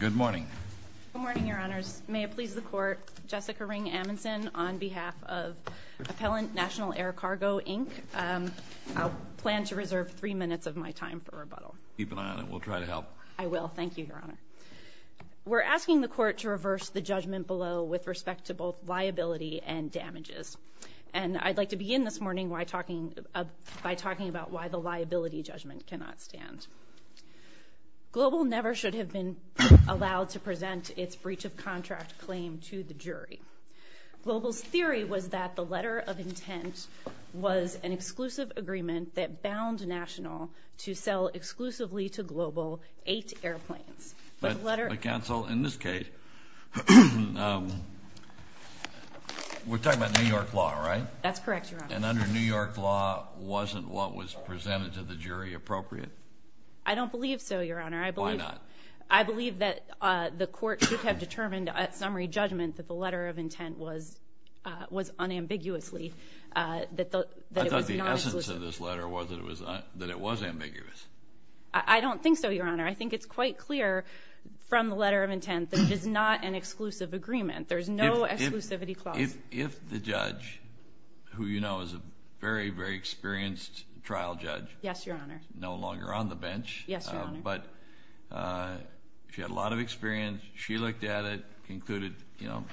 Good morning. Good morning, Your Honors. May it please the Court, Jessica Ring Amundsen on behalf of Appellant National Air Cargo, Inc. I'll plan to reserve three minutes of my time for rebuttal. Keep an eye on it. We'll try to help. I will. Thank you, Your Honor. We're asking the Court to reverse the judgment below with respect to both liability and damages. And I'd like to begin this morning by talking about why the liability judgment cannot stand. Global never should have been allowed to present its breach of contract claim to the jury. Global's theory was that the letter of intent was an exclusive agreement that bound National to sell exclusively to Global eight airplanes. But, counsel, in this case, we're talking about New York law, right? That's correct, Your Honor. And under New York law, wasn't what was presented to the jury appropriate? I don't believe so, Your Honor. Why not? I believe that the Court should have determined at summary judgment that the letter of intent was unambiguously. I thought the essence of this letter was that it was ambiguous. I don't think so, Your Honor. I think it's quite clear from the letter of intent that it is not an exclusive agreement. There's no exclusivity clause. If the judge, who you know is a very, very experienced trial judge. Yes, Your Honor. No longer on the bench. Yes, Your Honor. But she had a lot of experience. She looked at it, concluded, you know,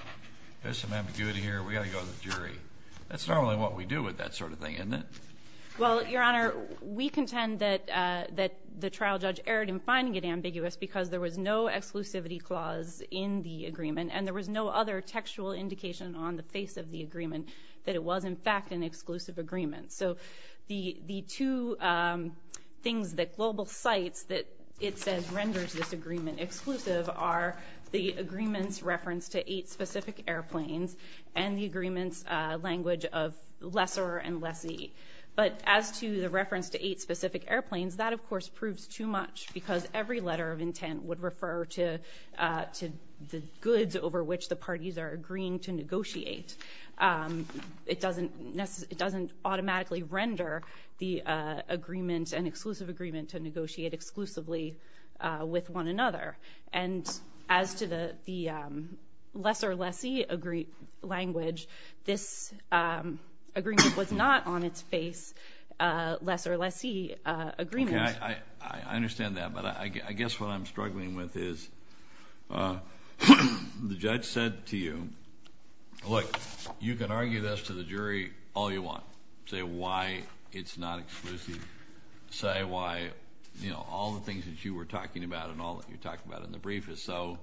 there's some ambiguity here. We've got to go to the jury. That's normally what we do with that sort of thing, isn't it? Well, Your Honor, we contend that the trial judge erred in finding it ambiguous because there was no exclusivity clause in the agreement. And there was no other textual indication on the face of the agreement that it was, in fact, an exclusive agreement. So the two things that Global cites that it says renders this agreement exclusive are the agreement's reference to eight specific airplanes and the agreement's language of lesser and lessee. But as to the reference to eight specific airplanes, that, of course, proves too much because every letter of intent would refer to the goods over which the parties are agreeing to negotiate. It doesn't automatically render the agreement an exclusive agreement to negotiate exclusively with one another. And as to the lesser lessee language, this agreement was not on its face lesser lessee agreement. I understand that, but I guess what I'm struggling with is the judge said to you, look, you can argue this to the jury all you want. Say why it's not exclusive. Say why, you know, all the things that you were talking about and all that you talked about in the brief is so,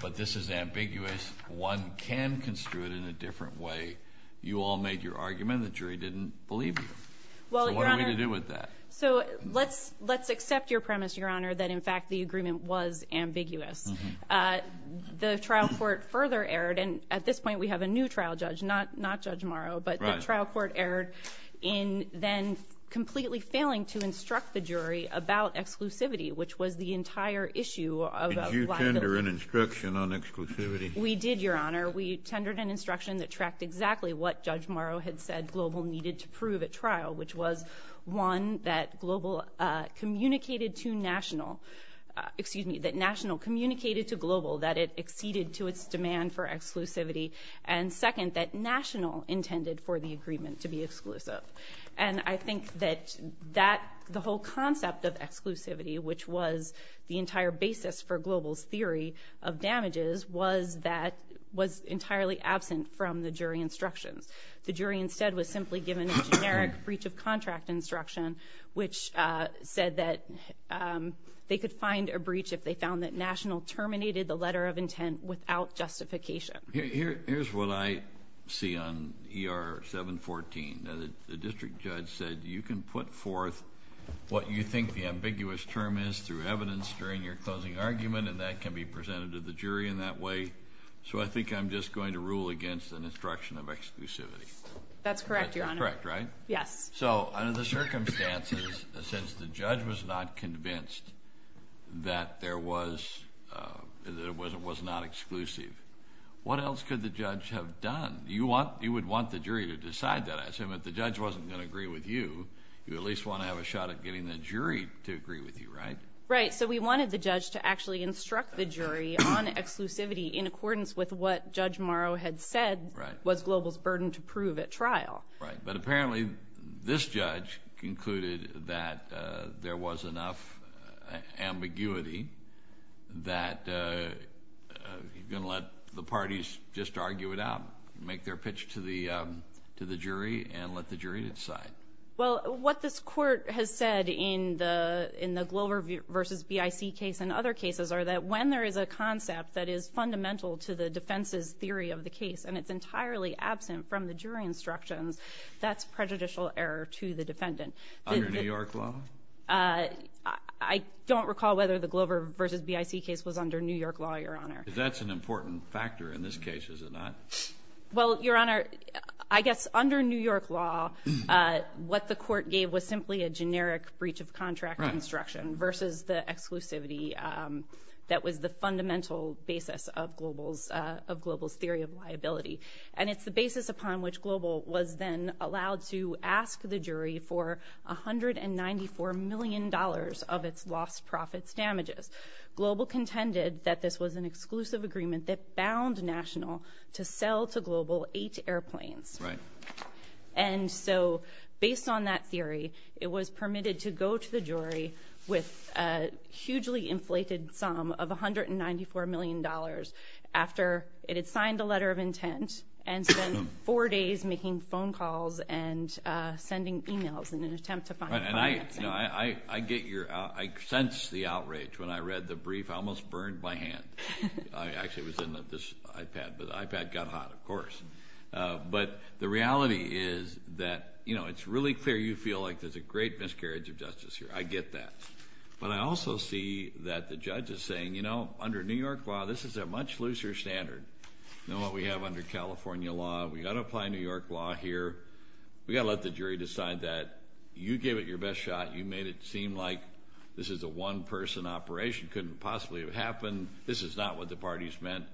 but this is ambiguous. One can construe it in a different way. You all made your argument. The jury didn't believe you. So what are we to do with that? So let's accept your premise, Your Honor, that in fact the agreement was ambiguous. The trial court further erred, and at this point we have a new trial judge, not Judge Morrow, but the trial court erred in then completely failing to instruct the jury about exclusivity, which was the entire issue. Did you tender an instruction on exclusivity? We did, Your Honor. We tendered an instruction that tracked exactly what Judge Morrow had said GLOBAL needed to prove at trial, which was, one, that GLOBAL communicated to National, excuse me, that National communicated to GLOBAL that it acceded to its demand for exclusivity, and, second, that National intended for the agreement to be exclusive. And I think that the whole concept of exclusivity, which was the entire basis for GLOBAL's theory of damages, was entirely absent from the jury instructions. The jury instead was simply given a generic breach of contract instruction, which said that they could find a breach if they found that National terminated the letter of intent without justification. Here's what I see on ER 714. The district judge said you can put forth what you think the ambiguous term is through evidence during your closing argument, and that can be presented to the jury in that way, so I think I'm just going to rule against an instruction of exclusivity. That's correct, Your Honor. That's correct, right? Yes. So under the circumstances, since the judge was not convinced that it was not exclusive, what else could the judge have done? You would want the jury to decide that. I assume if the judge wasn't going to agree with you, you at least want to have a shot at getting the jury to agree with you, right? Right, so we wanted the judge to actually instruct the jury on exclusivity in accordance with what Judge Morrow had said was GLOBAL's burden to prove at trial. Right, but apparently this judge concluded that there was enough ambiguity that you're going to let the parties just argue it out, make their pitch to the jury, and let the jury decide. Well, what this Court has said in the GLOBER v. BIC case and other cases are that when there is a concept that is fundamental to the defense's case and it's entirely absent from the jury instructions, that's prejudicial error to the defendant. Under New York law? I don't recall whether the GLOBER v. BIC case was under New York law, Your Honor. That's an important factor in this case, is it not? Well, Your Honor, I guess under New York law, what the Court gave was simply a generic breach of contract instruction versus the exclusivity that was the fundamental basis of GLOBAL's theory of liability. And it's the basis upon which GLOBAL was then allowed to ask the jury for $194 million of its lost profits damages. GLOBAL contended that this was an exclusive agreement that bound National to sell to GLOBAL eight airplanes. Right. And so based on that theory, it was permitted to go to the jury with a hugely inflated sum of $194 million after it had signed a letter of intent and spent four days making phone calls and sending emails in an attempt to find financing. And I get your – I sense the outrage when I read the brief. I almost burned my hand. I actually was in this iPad, but the iPad got hot, of course. But the reality is that, you know, it's really clear you feel like there's a great miscarriage of justice here. I get that. But I also see that the judge is saying, you know, under New York law, this is a much looser standard than what we have under California law. We've got to apply New York law here. We've got to let the jury decide that. You gave it your best shot. You made it seem like this is a one-person operation. It couldn't possibly have happened. This is not what the parties meant.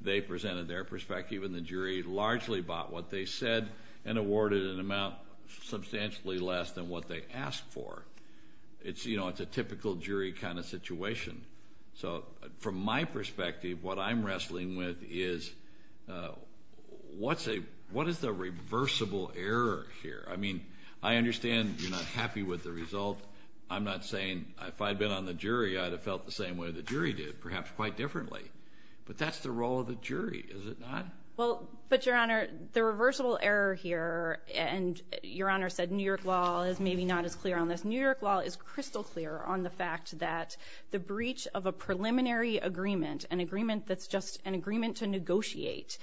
They presented their perspective, and the jury largely bought what they said and awarded an amount substantially less than what they asked for. It's – you know, it's a typical jury kind of situation. So from my perspective, what I'm wrestling with is what's a – what is the reversible error here? I mean, I understand you're not happy with the result. I'm not saying – if I'd been on the jury, I'd have felt the same way the jury did, perhaps quite differently. But that's the role of the jury, is it not? Well, but, Your Honor, the reversible error here – and Your Honor said New York law is maybe not as clear on this. New York law is crystal clear on the fact that the breach of a preliminary agreement, an agreement that's just an agreement to negotiate,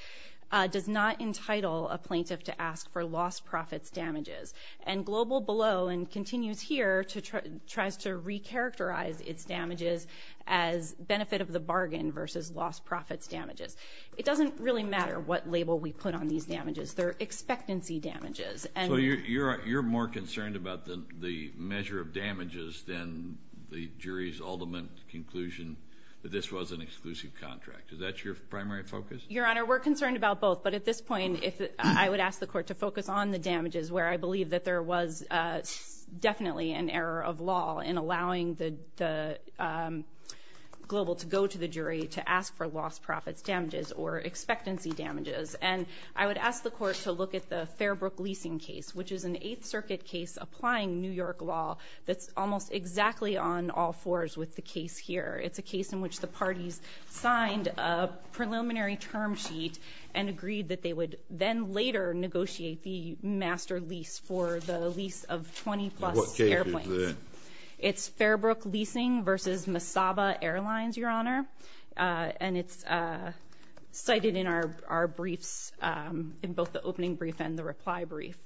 does not entitle a plaintiff to ask for lost profits damages. And Global Below, and continues here, tries to recharacterize its damages as benefit of the bargain versus lost profits damages. It doesn't really matter what label we put on these damages. They're expectancy damages. So you're more concerned about the measure of damages than the jury's ultimate conclusion that this was an exclusive contract. Is that your primary focus? Your Honor, we're concerned about both. But at this point, I would ask the court to focus on the damages where I believe that there was definitely an error of law in allowing Global to go to the jury to ask for lost profits damages or expectancy damages. And I would ask the court to look at the Fairbrook leasing case, which is an Eighth Circuit case applying New York law that's almost exactly on all fours with the case here. It's a case in which the parties signed a preliminary term sheet and agreed that they would then later negotiate the master lease for the lease of 20-plus airplanes. What case is that? It's Fairbrook leasing versus Misawa Airlines, Your Honor. And it's cited in our briefs, in both the opening brief and the reply brief.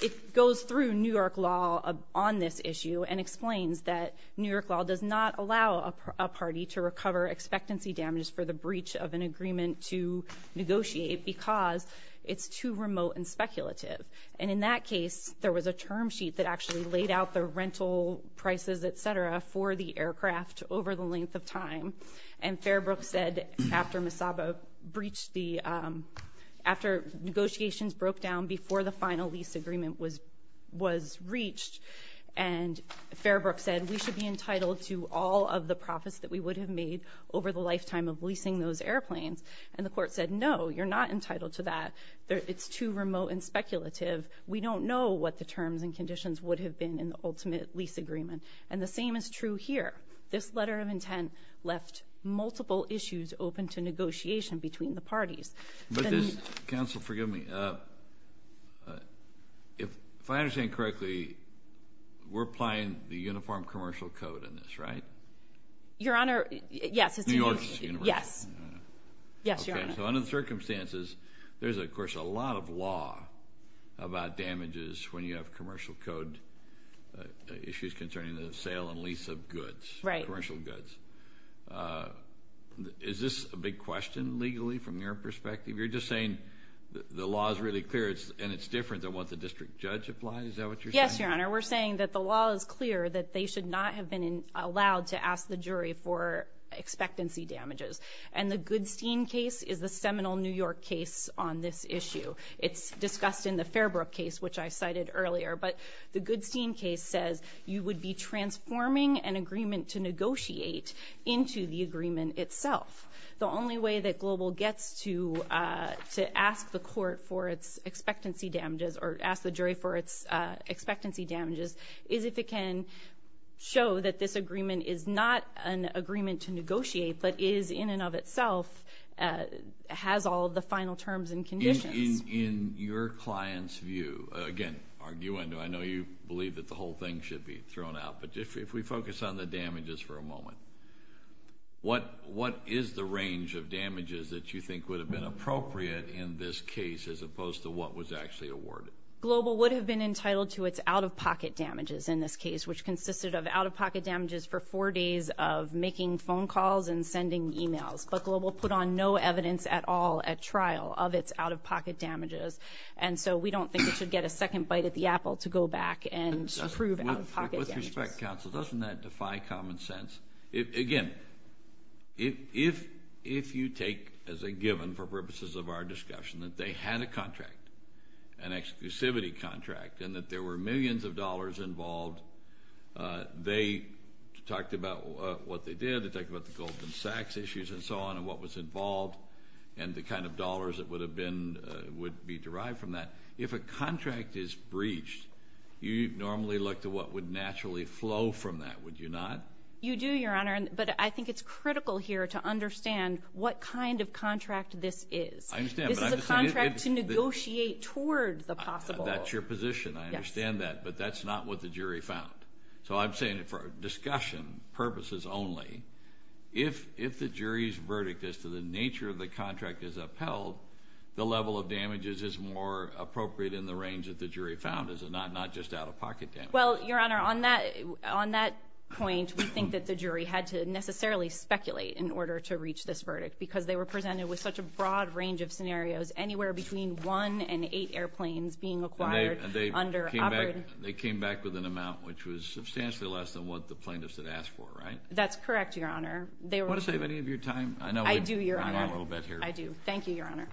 It goes through New York law on this issue and explains that New York law does not allow a party to recover expectancy damages for the breach of an agreement to negotiate because it's too remote and speculative. And in that case, there was a term sheet that actually laid out the rental prices, et cetera, for the aircraft over the length of time. And Fairbrook said, after Misawa breached the— after negotiations broke down before the final lease agreement was reached, and Fairbrook said we should be entitled to all of the profits that we would have made over the lifetime of leasing those airplanes. And the court said, no, you're not entitled to that. It's too remote and speculative. We don't know what the terms and conditions would have been in the ultimate lease agreement. And the same is true here. This letter of intent left multiple issues open to negotiation between the parties. But does—Counsel, forgive me. If I understand correctly, we're applying the uniform commercial code in this, right? Your Honor, yes. New York's universal? Yes. Yes, Your Honor. Okay. So under the circumstances, there's, of course, a lot of law about damages when you have commercial code issues concerning the sale and lease of goods. Right. Commercial goods. Is this a big question legally from your perspective? You're just saying the law is really clear and it's different than what the district judge applies? Is that what you're saying? Yes, Your Honor. We're saying that the law is clear that they should not have been allowed to ask the jury for expectancy damages. And the Goodstein case is the seminal New York case on this issue. It's discussed in the Fairbrook case, which I cited earlier. But the Goodstein case says you would be transforming an agreement to negotiate into the agreement itself. The only way that Global gets to ask the court for its expectancy damages or ask the jury for its expectancy damages is if it can show that this agreement is not an agreement to negotiate but is in and of itself has all the final terms and conditions. In your client's view, again, arguing, I know you believe that the whole thing should be thrown out, but if we focus on the damages for a moment, what is the range of damages that you think would have been appropriate in this case as opposed to what was actually awarded? Global would have been entitled to its out-of-pocket damages in this case, which consisted of out-of-pocket damages for four days of making phone calls and sending emails. But Global put on no evidence at all at trial of its out-of-pocket damages. And so we don't think it should get a second bite at the apple to go back and prove out-of-pocket damages. With respect, counsel, doesn't that defy common sense? Again, if you take as a given for purposes of our discussion that they had a contract, an exclusivity contract, and that there were millions of dollars involved, they talked about what they did. They talked about the Goldman Sachs issues and so on and what was involved and the kind of dollars that would be derived from that. If a contract is breached, you normally look to what would naturally flow from that, would you not? You do, Your Honor. But I think it's critical here to understand what kind of contract this is. I understand, but I'm just saying it is. This is a contract to negotiate toward the possible. That's your position. I understand that. But that's not what the jury found. So I'm saying for discussion purposes only, if the jury's verdict as to the nature of the contract is upheld, the level of damages is more appropriate in the range that the jury found. It's not just out-of-pocket damages. Well, Your Honor, on that point, we think that the jury had to necessarily speculate in order to reach this verdict because they were presented with such a broad range of scenarios, anywhere between one and eight airplanes being acquired under operating. They came back with an amount which was substantially less than what the plaintiffs had asked for, right? That's correct, Your Honor. Do you want to save any of your time? I do, Your Honor. I know we've gone on a little bit here. I do. Thank you, Your Honor.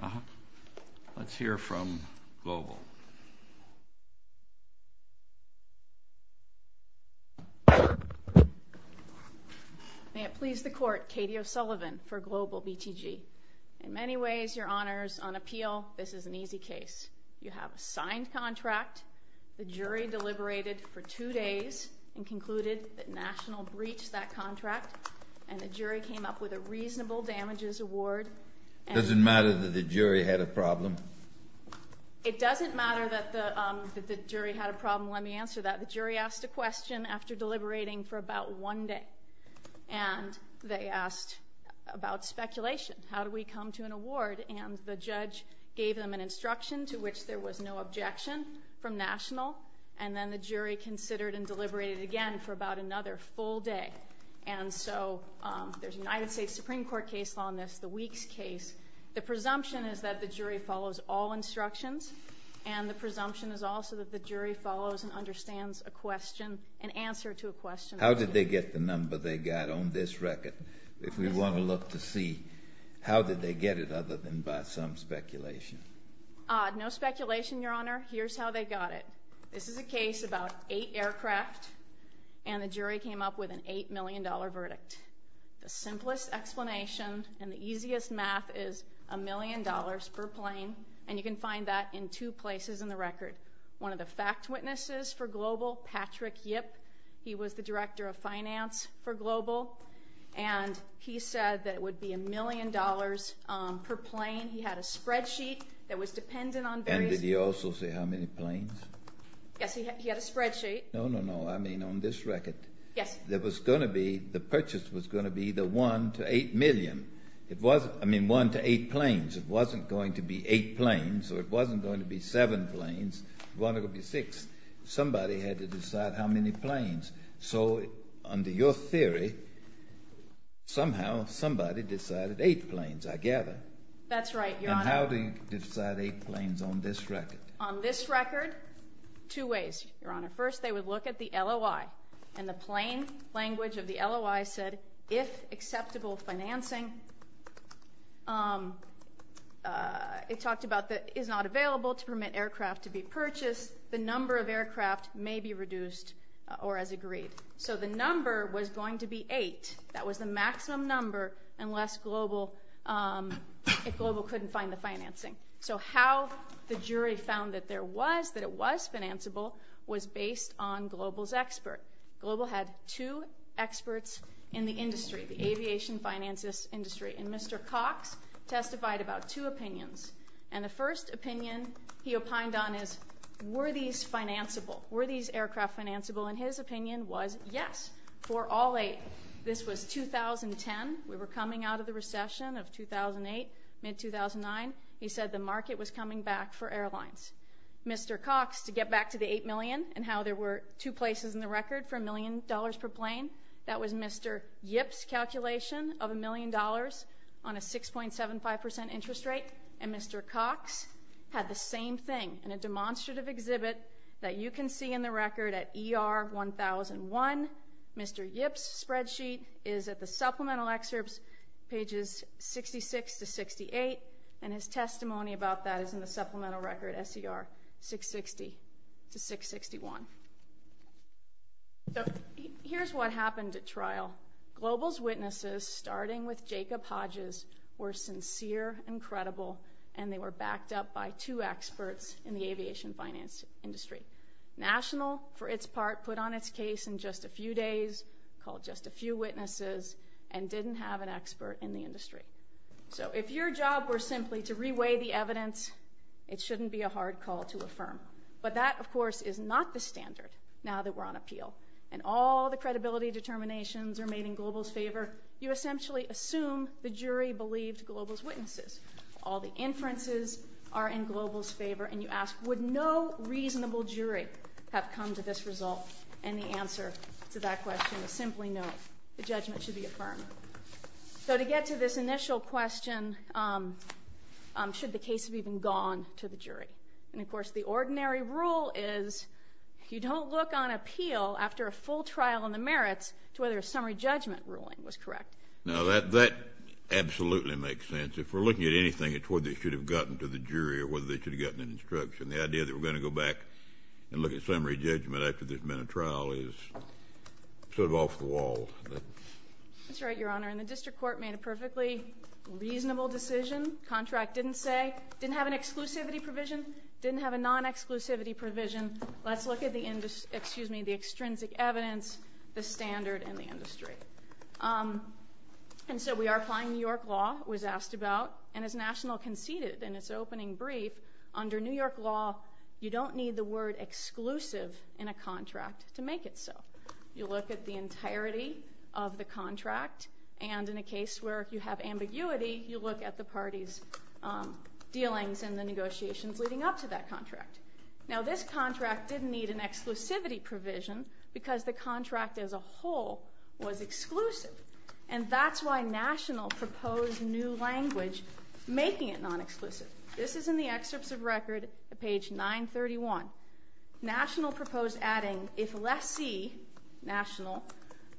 Let's hear from Global. May it please the Court, Katie O'Sullivan for Global BTG. In many ways, Your Honors, on appeal, this is an easy case. You have a signed contract. The jury deliberated for two days and concluded that National breached that contract, and the jury came up with a reasonable damages award. Does it matter that the jury had a problem? It doesn't matter that the jury had a problem. Let me answer that. The jury asked a question after deliberating for about one day, and they asked about speculation. How do we come to an award? And the judge gave them an instruction to which there was no objection from National, and then the jury considered and deliberated again for about another full day. And so there's a United States Supreme Court case on this, the Weeks case. The presumption is that the jury follows all instructions, and the presumption is also that the jury follows and understands a question, an answer to a question. How did they get the number they got on this record? If we want to look to see, how did they get it other than by some speculation? No speculation, Your Honor. Here's how they got it. This is a case about eight aircraft, and the jury came up with an $8 million verdict. The simplest explanation and the easiest math is $1 million per plane, and you can find that in two places in the record. One of the fact witnesses for Global, Patrick Yip. He was the director of finance for Global, and he said that it would be $1 million per plane. He had a spreadsheet that was dependent on various... And did he also say how many planes? Yes, he had a spreadsheet. No, no, no. I mean on this record. Yes. There was going to be, the purchase was going to be the 1 to 8 million. It wasn't, I mean 1 to 8 planes. It wasn't going to be 8 planes, or it wasn't going to be 7 planes. It wasn't going to be 6. Somebody had to decide how many planes. So under your theory, somehow somebody decided 8 planes, I gather. That's right, Your Honor. And how do you decide 8 planes on this record? On this record, two ways, Your Honor. First, they would look at the LOI, and the plane language of the LOI said, if acceptable financing. It talked about is not available to permit aircraft to be purchased. The number of aircraft may be reduced or as agreed. So the number was going to be 8. That was the maximum number unless Global couldn't find the financing. So how the jury found that it was financeable was based on Global's expert. Global had two experts in the industry, the aviation finance industry, and Mr. Cox testified about two opinions. And the first opinion he opined on is, were these financeable? Were these aircraft financeable? And his opinion was, yes, for all 8. This was 2010. We were coming out of the recession of 2008, mid-2009. He said the market was coming back for airlines. Mr. Cox, to get back to the 8 million and how there were two places in the record for $1 million per plane, that was Mr. Yip's calculation of $1 million on a 6.75% interest rate, and Mr. Cox had the same thing in a demonstrative exhibit that you can see in the record at ER 1001. Mr. Yip's spreadsheet is at the supplemental excerpts, pages 66 to 68, and his testimony about that is in the supplemental record, SER 660 to 661. So here's what happened at trial. Global's witnesses, starting with Jacob Hodges, were sincere and credible, and they were backed up by two experts in the aviation finance industry. National, for its part, put on its case in just a few days, called just a few witnesses, and didn't have an expert in the industry. So if your job were simply to reweigh the evidence, it shouldn't be a hard call to affirm. But that, of course, is not the standard now that we're on appeal, and all the credibility determinations are made in Global's favor. You essentially assume the jury believed Global's witnesses. All the inferences are in Global's favor, and you ask would no reasonable jury have come to this result, and the answer to that question is simply no. The judgment should be affirmed. So to get to this initial question, should the case have even gone to the jury? And, of course, the ordinary rule is you don't look on appeal after a full trial on the merits to whether a summary judgment ruling was correct. Now, that absolutely makes sense. If we're looking at anything, it's whether it should have gotten to the jury or whether they should have gotten an instruction. The idea that we're going to go back and look at summary judgment after there's been a trial is sort of off the wall. That's right, Your Honor, and the district court made a perfectly reasonable decision. Contract didn't say, didn't have an exclusivity provision, didn't have a non-exclusivity provision. Let's look at the extrinsic evidence, the standard, and the industry. And so we are applying New York law, it was asked about, and as National conceded in its opening brief, under New York law, you don't need the word exclusive in a contract to make it so. You look at the entirety of the contract, and in a case where you have ambiguity, you look at the party's dealings and the negotiations leading up to that contract. Now, this contract didn't need an exclusivity provision because the contract as a whole was exclusive, and that's why National proposed new language making it non-exclusive. This is in the excerpts of record at page 931. National proposed adding, if lessee, National,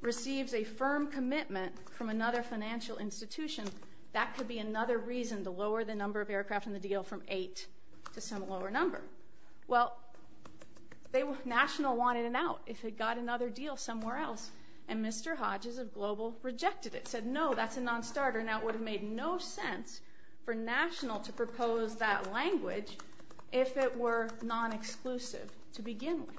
receives a firm commitment from another financial institution, that could be another reason to lower the number of aircraft in the deal from eight to some lower number. Well, National wanted an out if it got another deal somewhere else, and Mr. Hodges of Global rejected it, said no, that's a non-starter, and that would have made no sense for National to propose that language if it were non-exclusive to begin with.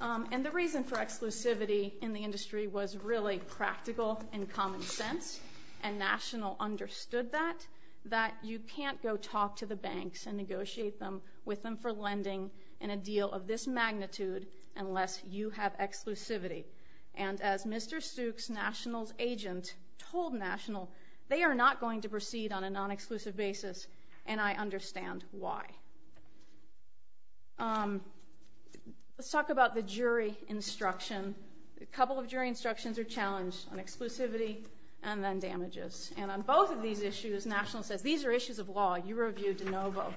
And the reason for exclusivity in the industry was really practical and common sense, and National understood that, that you can't go talk to the banks and negotiate with them for lending in a deal of this magnitude unless you have exclusivity. And as Mr. Stuke's National's agent told National, they are not going to proceed on a non-exclusive basis, and I understand why. Let's talk about the jury instruction. A couple of jury instructions are challenged on exclusivity and then damages. And on both of these issues, National says, these are issues of law, you review de novo.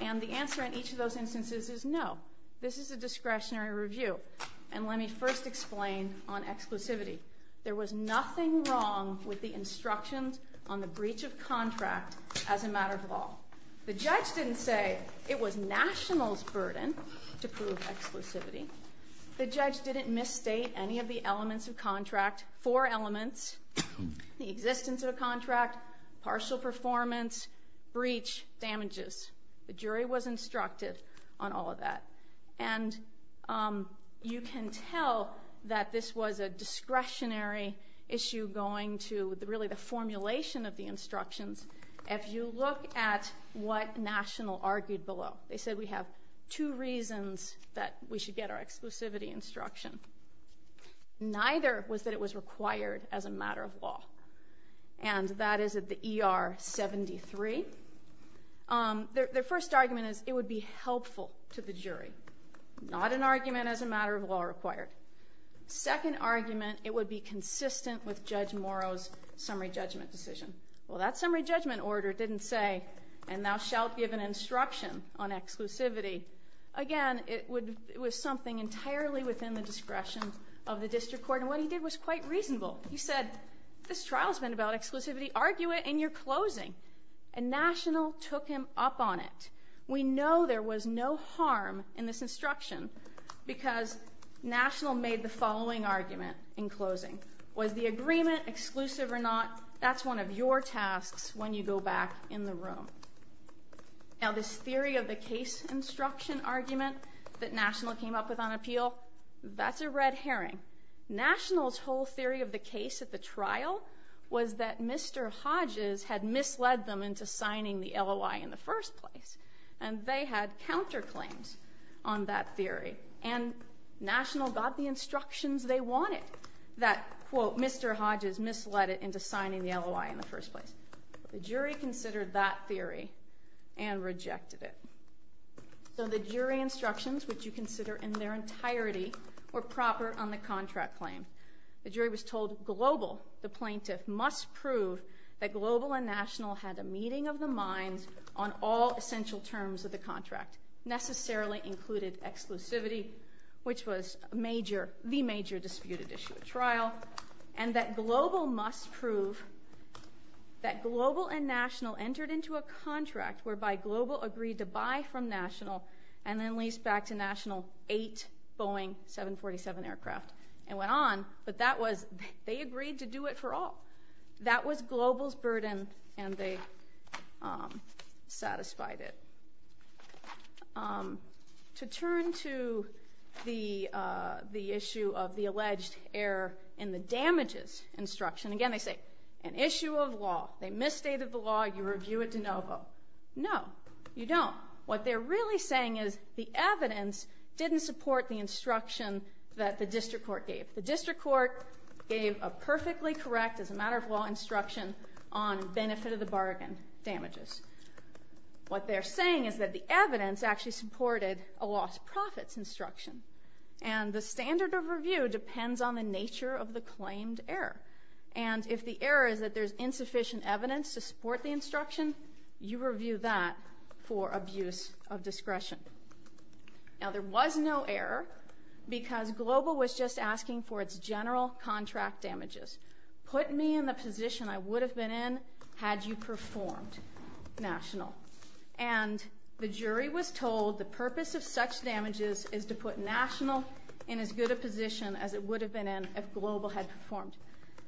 And the answer in each of those instances is no, this is a discretionary review. And let me first explain on exclusivity. There was nothing wrong with the instructions on the breach of contract as a matter of law. The judge didn't say it was National's burden to prove exclusivity. The judge didn't misstate any of the elements of contract, four elements, the existence of a contract, partial performance, breach, damages. The jury was instructed on all of that. And you can tell that this was a discretionary issue going to really the formulation of the instructions. If you look at what National argued below, they said we have two reasons that we should get our exclusivity instruction. Neither was that it was required as a matter of law. And that is at the ER 73. Their first argument is it would be helpful to the jury, not an argument as a matter of law required. Second argument, it would be consistent with Judge Morrow's summary judgment decision. Well, that summary judgment order didn't say, and thou shalt give an instruction on exclusivity. Again, it was something entirely within the discretion of the district court. And what he did was quite reasonable. He said this trial has been about exclusivity. Argue it in your closing. And National took him up on it. We know there was no harm in this instruction because National made the following argument in closing. Was the agreement exclusive or not? That's one of your tasks when you go back in the room. Now, this theory of the case instruction argument that National came up with on appeal, that's a red herring. National's whole theory of the case at the trial was that Mr. Hodges had misled them into signing the LOI in the first place. And they had counterclaims on that theory. And National got the instructions they wanted, that, quote, Mr. Hodges misled it into signing the LOI in the first place. The jury considered that theory and rejected it. So the jury instructions, which you consider in their entirety, were proper on the contract claim. The jury was told Global, the plaintiff, must prove that Global and National had a meeting of the minds on all essential terms of the contract. Necessarily included exclusivity, which was the major disputed issue at trial. And that Global must prove that Global and National entered into a contract whereby Global agreed to buy from National and then lease back to National eight Boeing 747 aircraft and went on. But that was, they agreed to do it for all. That was Global's burden, and they satisfied it. To turn to the issue of the alleged error in the damages instruction. Again, they say, an issue of law. They misstated the law. You review it de novo. No, you don't. What they're really saying is the evidence didn't support the instruction that the district court gave. The district court gave a perfectly correct, as a matter of law, instruction on benefit of the bargain damages. What they're saying is that the evidence actually supported a lost profits instruction. And the standard of review depends on the nature of the claimed error. And if the error is that there's insufficient evidence to support the instruction, you review that for abuse of discretion. Now, there was no error because Global was just asking for its general contract damages. Put me in the position I would have been in had you performed, National. And the jury was told the purpose of such damages is to put National in as good a position as it would have been in if Global had performed.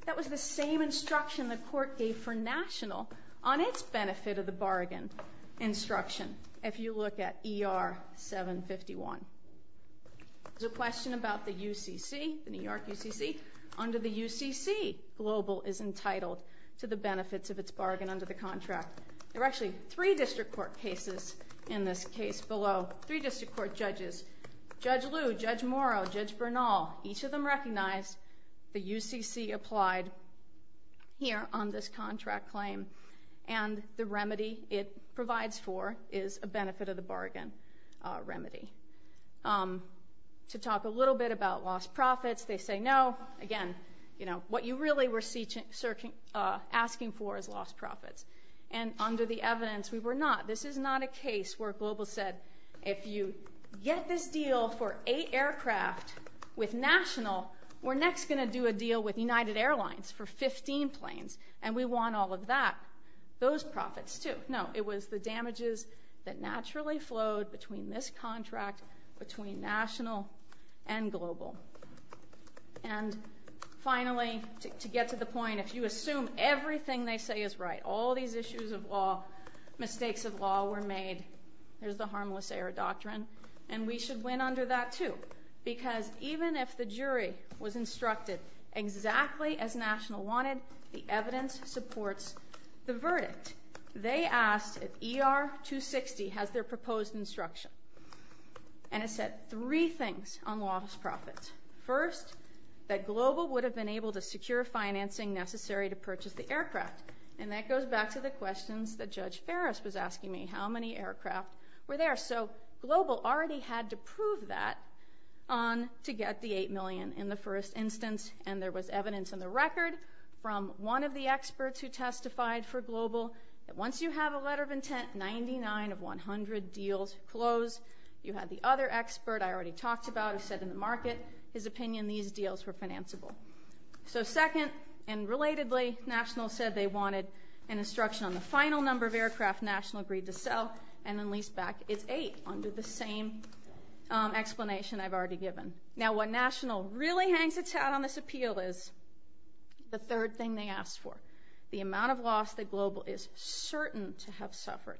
That was the same instruction the court gave for National on its benefit of the bargain instruction if you look at ER 751. There's a question about the UCC, the New York UCC. Under the UCC, Global is entitled to the benefits of its bargain under the contract. There are actually three district court cases in this case below, three district court judges, Judge Liu, Judge Morrow, Judge Bernal. Each of them recognized the UCC applied here on this contract claim. And the remedy it provides for is a benefit of the bargain remedy. To talk a little bit about lost profits, they say no. Again, what you really were asking for is lost profits. And under the evidence, we were not. This is not a case where Global said, if you get this deal for eight aircraft with National, we're next going to do a deal with United Airlines for 15 planes, and we want all of that, those profits too. No, it was the damages that naturally flowed between this contract, between National and Global. And finally, to get to the point, if you assume everything they say is right, all these issues of law, mistakes of law were made, there's the harmless error doctrine, and we should win under that too. Because even if the jury was instructed exactly as National wanted, the evidence supports the verdict. They asked if ER-260 has their proposed instruction. And it said three things on lost profits. First, that Global would have been able to secure financing necessary to purchase the aircraft. And that goes back to the questions that Judge Ferris was asking me, how many aircraft were there? So Global already had to prove that to get the eight million in the first instance, and there was evidence in the record from one of the experts who testified for Global that once you have a letter of intent, 99 of 100 deals close. You had the other expert I already talked about who said in the market, his opinion, these deals were financeable. So second, and relatedly, National said they wanted an instruction on the final number of aircraft National agreed to sell, and then leased back its eight under the same explanation I've already given. Now what National really hangs its hat on this appeal is the third thing they asked for, the amount of loss that Global is certain to have suffered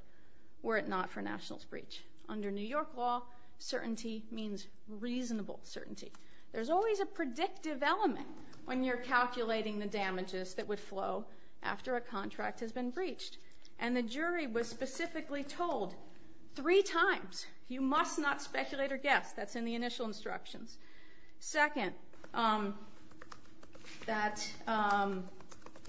were it not for National's breach. Under New York law, certainty means reasonable certainty. There's always a predictive element when you're calculating the damages that would flow after a contract has been breached. And the jury was specifically told three times, you must not speculate or guess. That's in the initial instructions. Second, that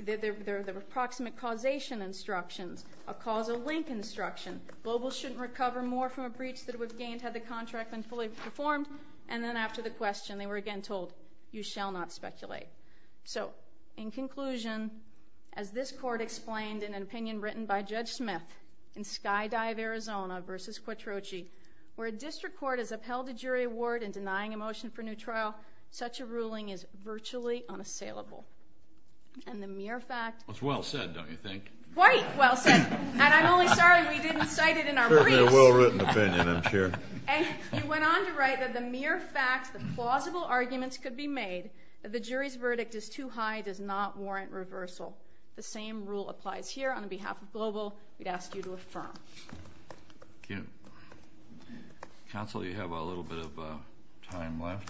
there were approximate causation instructions, a causal link instruction. Global shouldn't recover more from a breach that it would have gained had the contract been fully performed. And then after the question, they were again told, you shall not speculate. So in conclusion, as this court explained in an opinion written by Judge Smith in Skydive Arizona v. Quattrochi, where a district court has upheld a jury award in denying a motion for new trial, such a ruling is virtually unassailable. And the mere fact... It's well said, don't you think? Quite well said. And I'm only sorry we didn't cite it in our briefs. Certainly a well-written opinion, I'm sure. And he went on to write that the mere fact that plausible arguments could be made that the jury's verdict is too high does not warrant reversal. The same rule applies here. On behalf of Global, we'd ask you to affirm. Thank you. Counsel, you have a little bit of time left.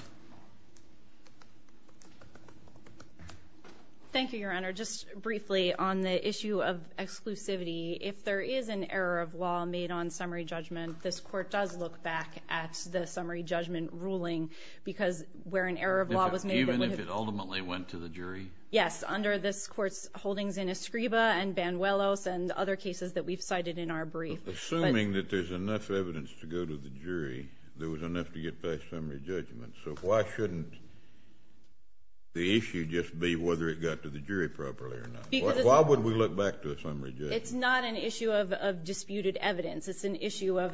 Thank you, Your Honor. Just briefly on the issue of exclusivity, if there is an error of law made on summary judgment, this court does look back at the summary judgment ruling because where an error of law was made... Even if it ultimately went to the jury? Yes, under this court's holdings in Escriba and Banuelos and other cases that we've cited in our brief. Assuming that there's enough evidence to go to the jury, there was enough to get past summary judgment, so why shouldn't the issue just be whether it got to the jury properly or not? Why would we look back to a summary judgment? It's not an issue of disputed evidence. It's an issue as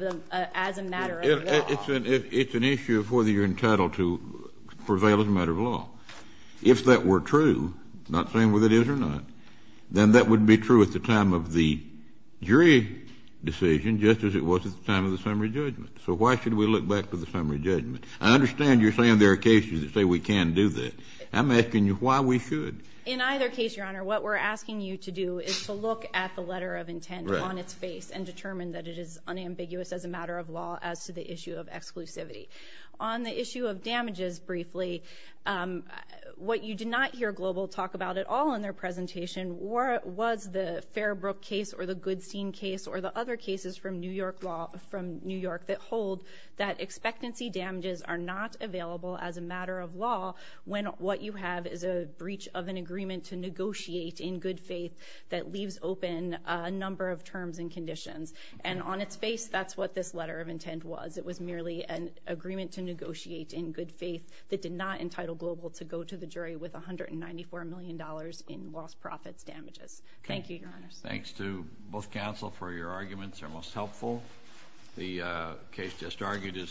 a matter of law. It's an issue of whether you're entitled to prevail as a matter of law. If that were true, not saying whether it is or not, then that would be true at the time of the jury decision just as it was at the time of the summary judgment. So why should we look back to the summary judgment? I understand you're saying there are cases that say we can do that. I'm asking you why we should. In either case, Your Honor, what we're asking you to do is to look at the letter of intent on its face and determine that it is unambiguous as a matter of law as to the issue of exclusivity. On the issue of damages briefly, what you did not hear Global talk about at all in their presentation was the Fairbrook case or the Goodstein case or the other cases from New York that hold that expectancy damages are not available as a matter of law when what you have is a breach of an agreement to negotiate in good faith that leaves open a number of terms and conditions. And on its face, that's what this letter of intent was. It was merely an agreement to negotiate in good faith that did not entitle Global to go to the jury with $194 million in lost profits damages. Thank you, Your Honor. Thanks to both counsel for your arguments. They're most helpful. The case just argued is submitted.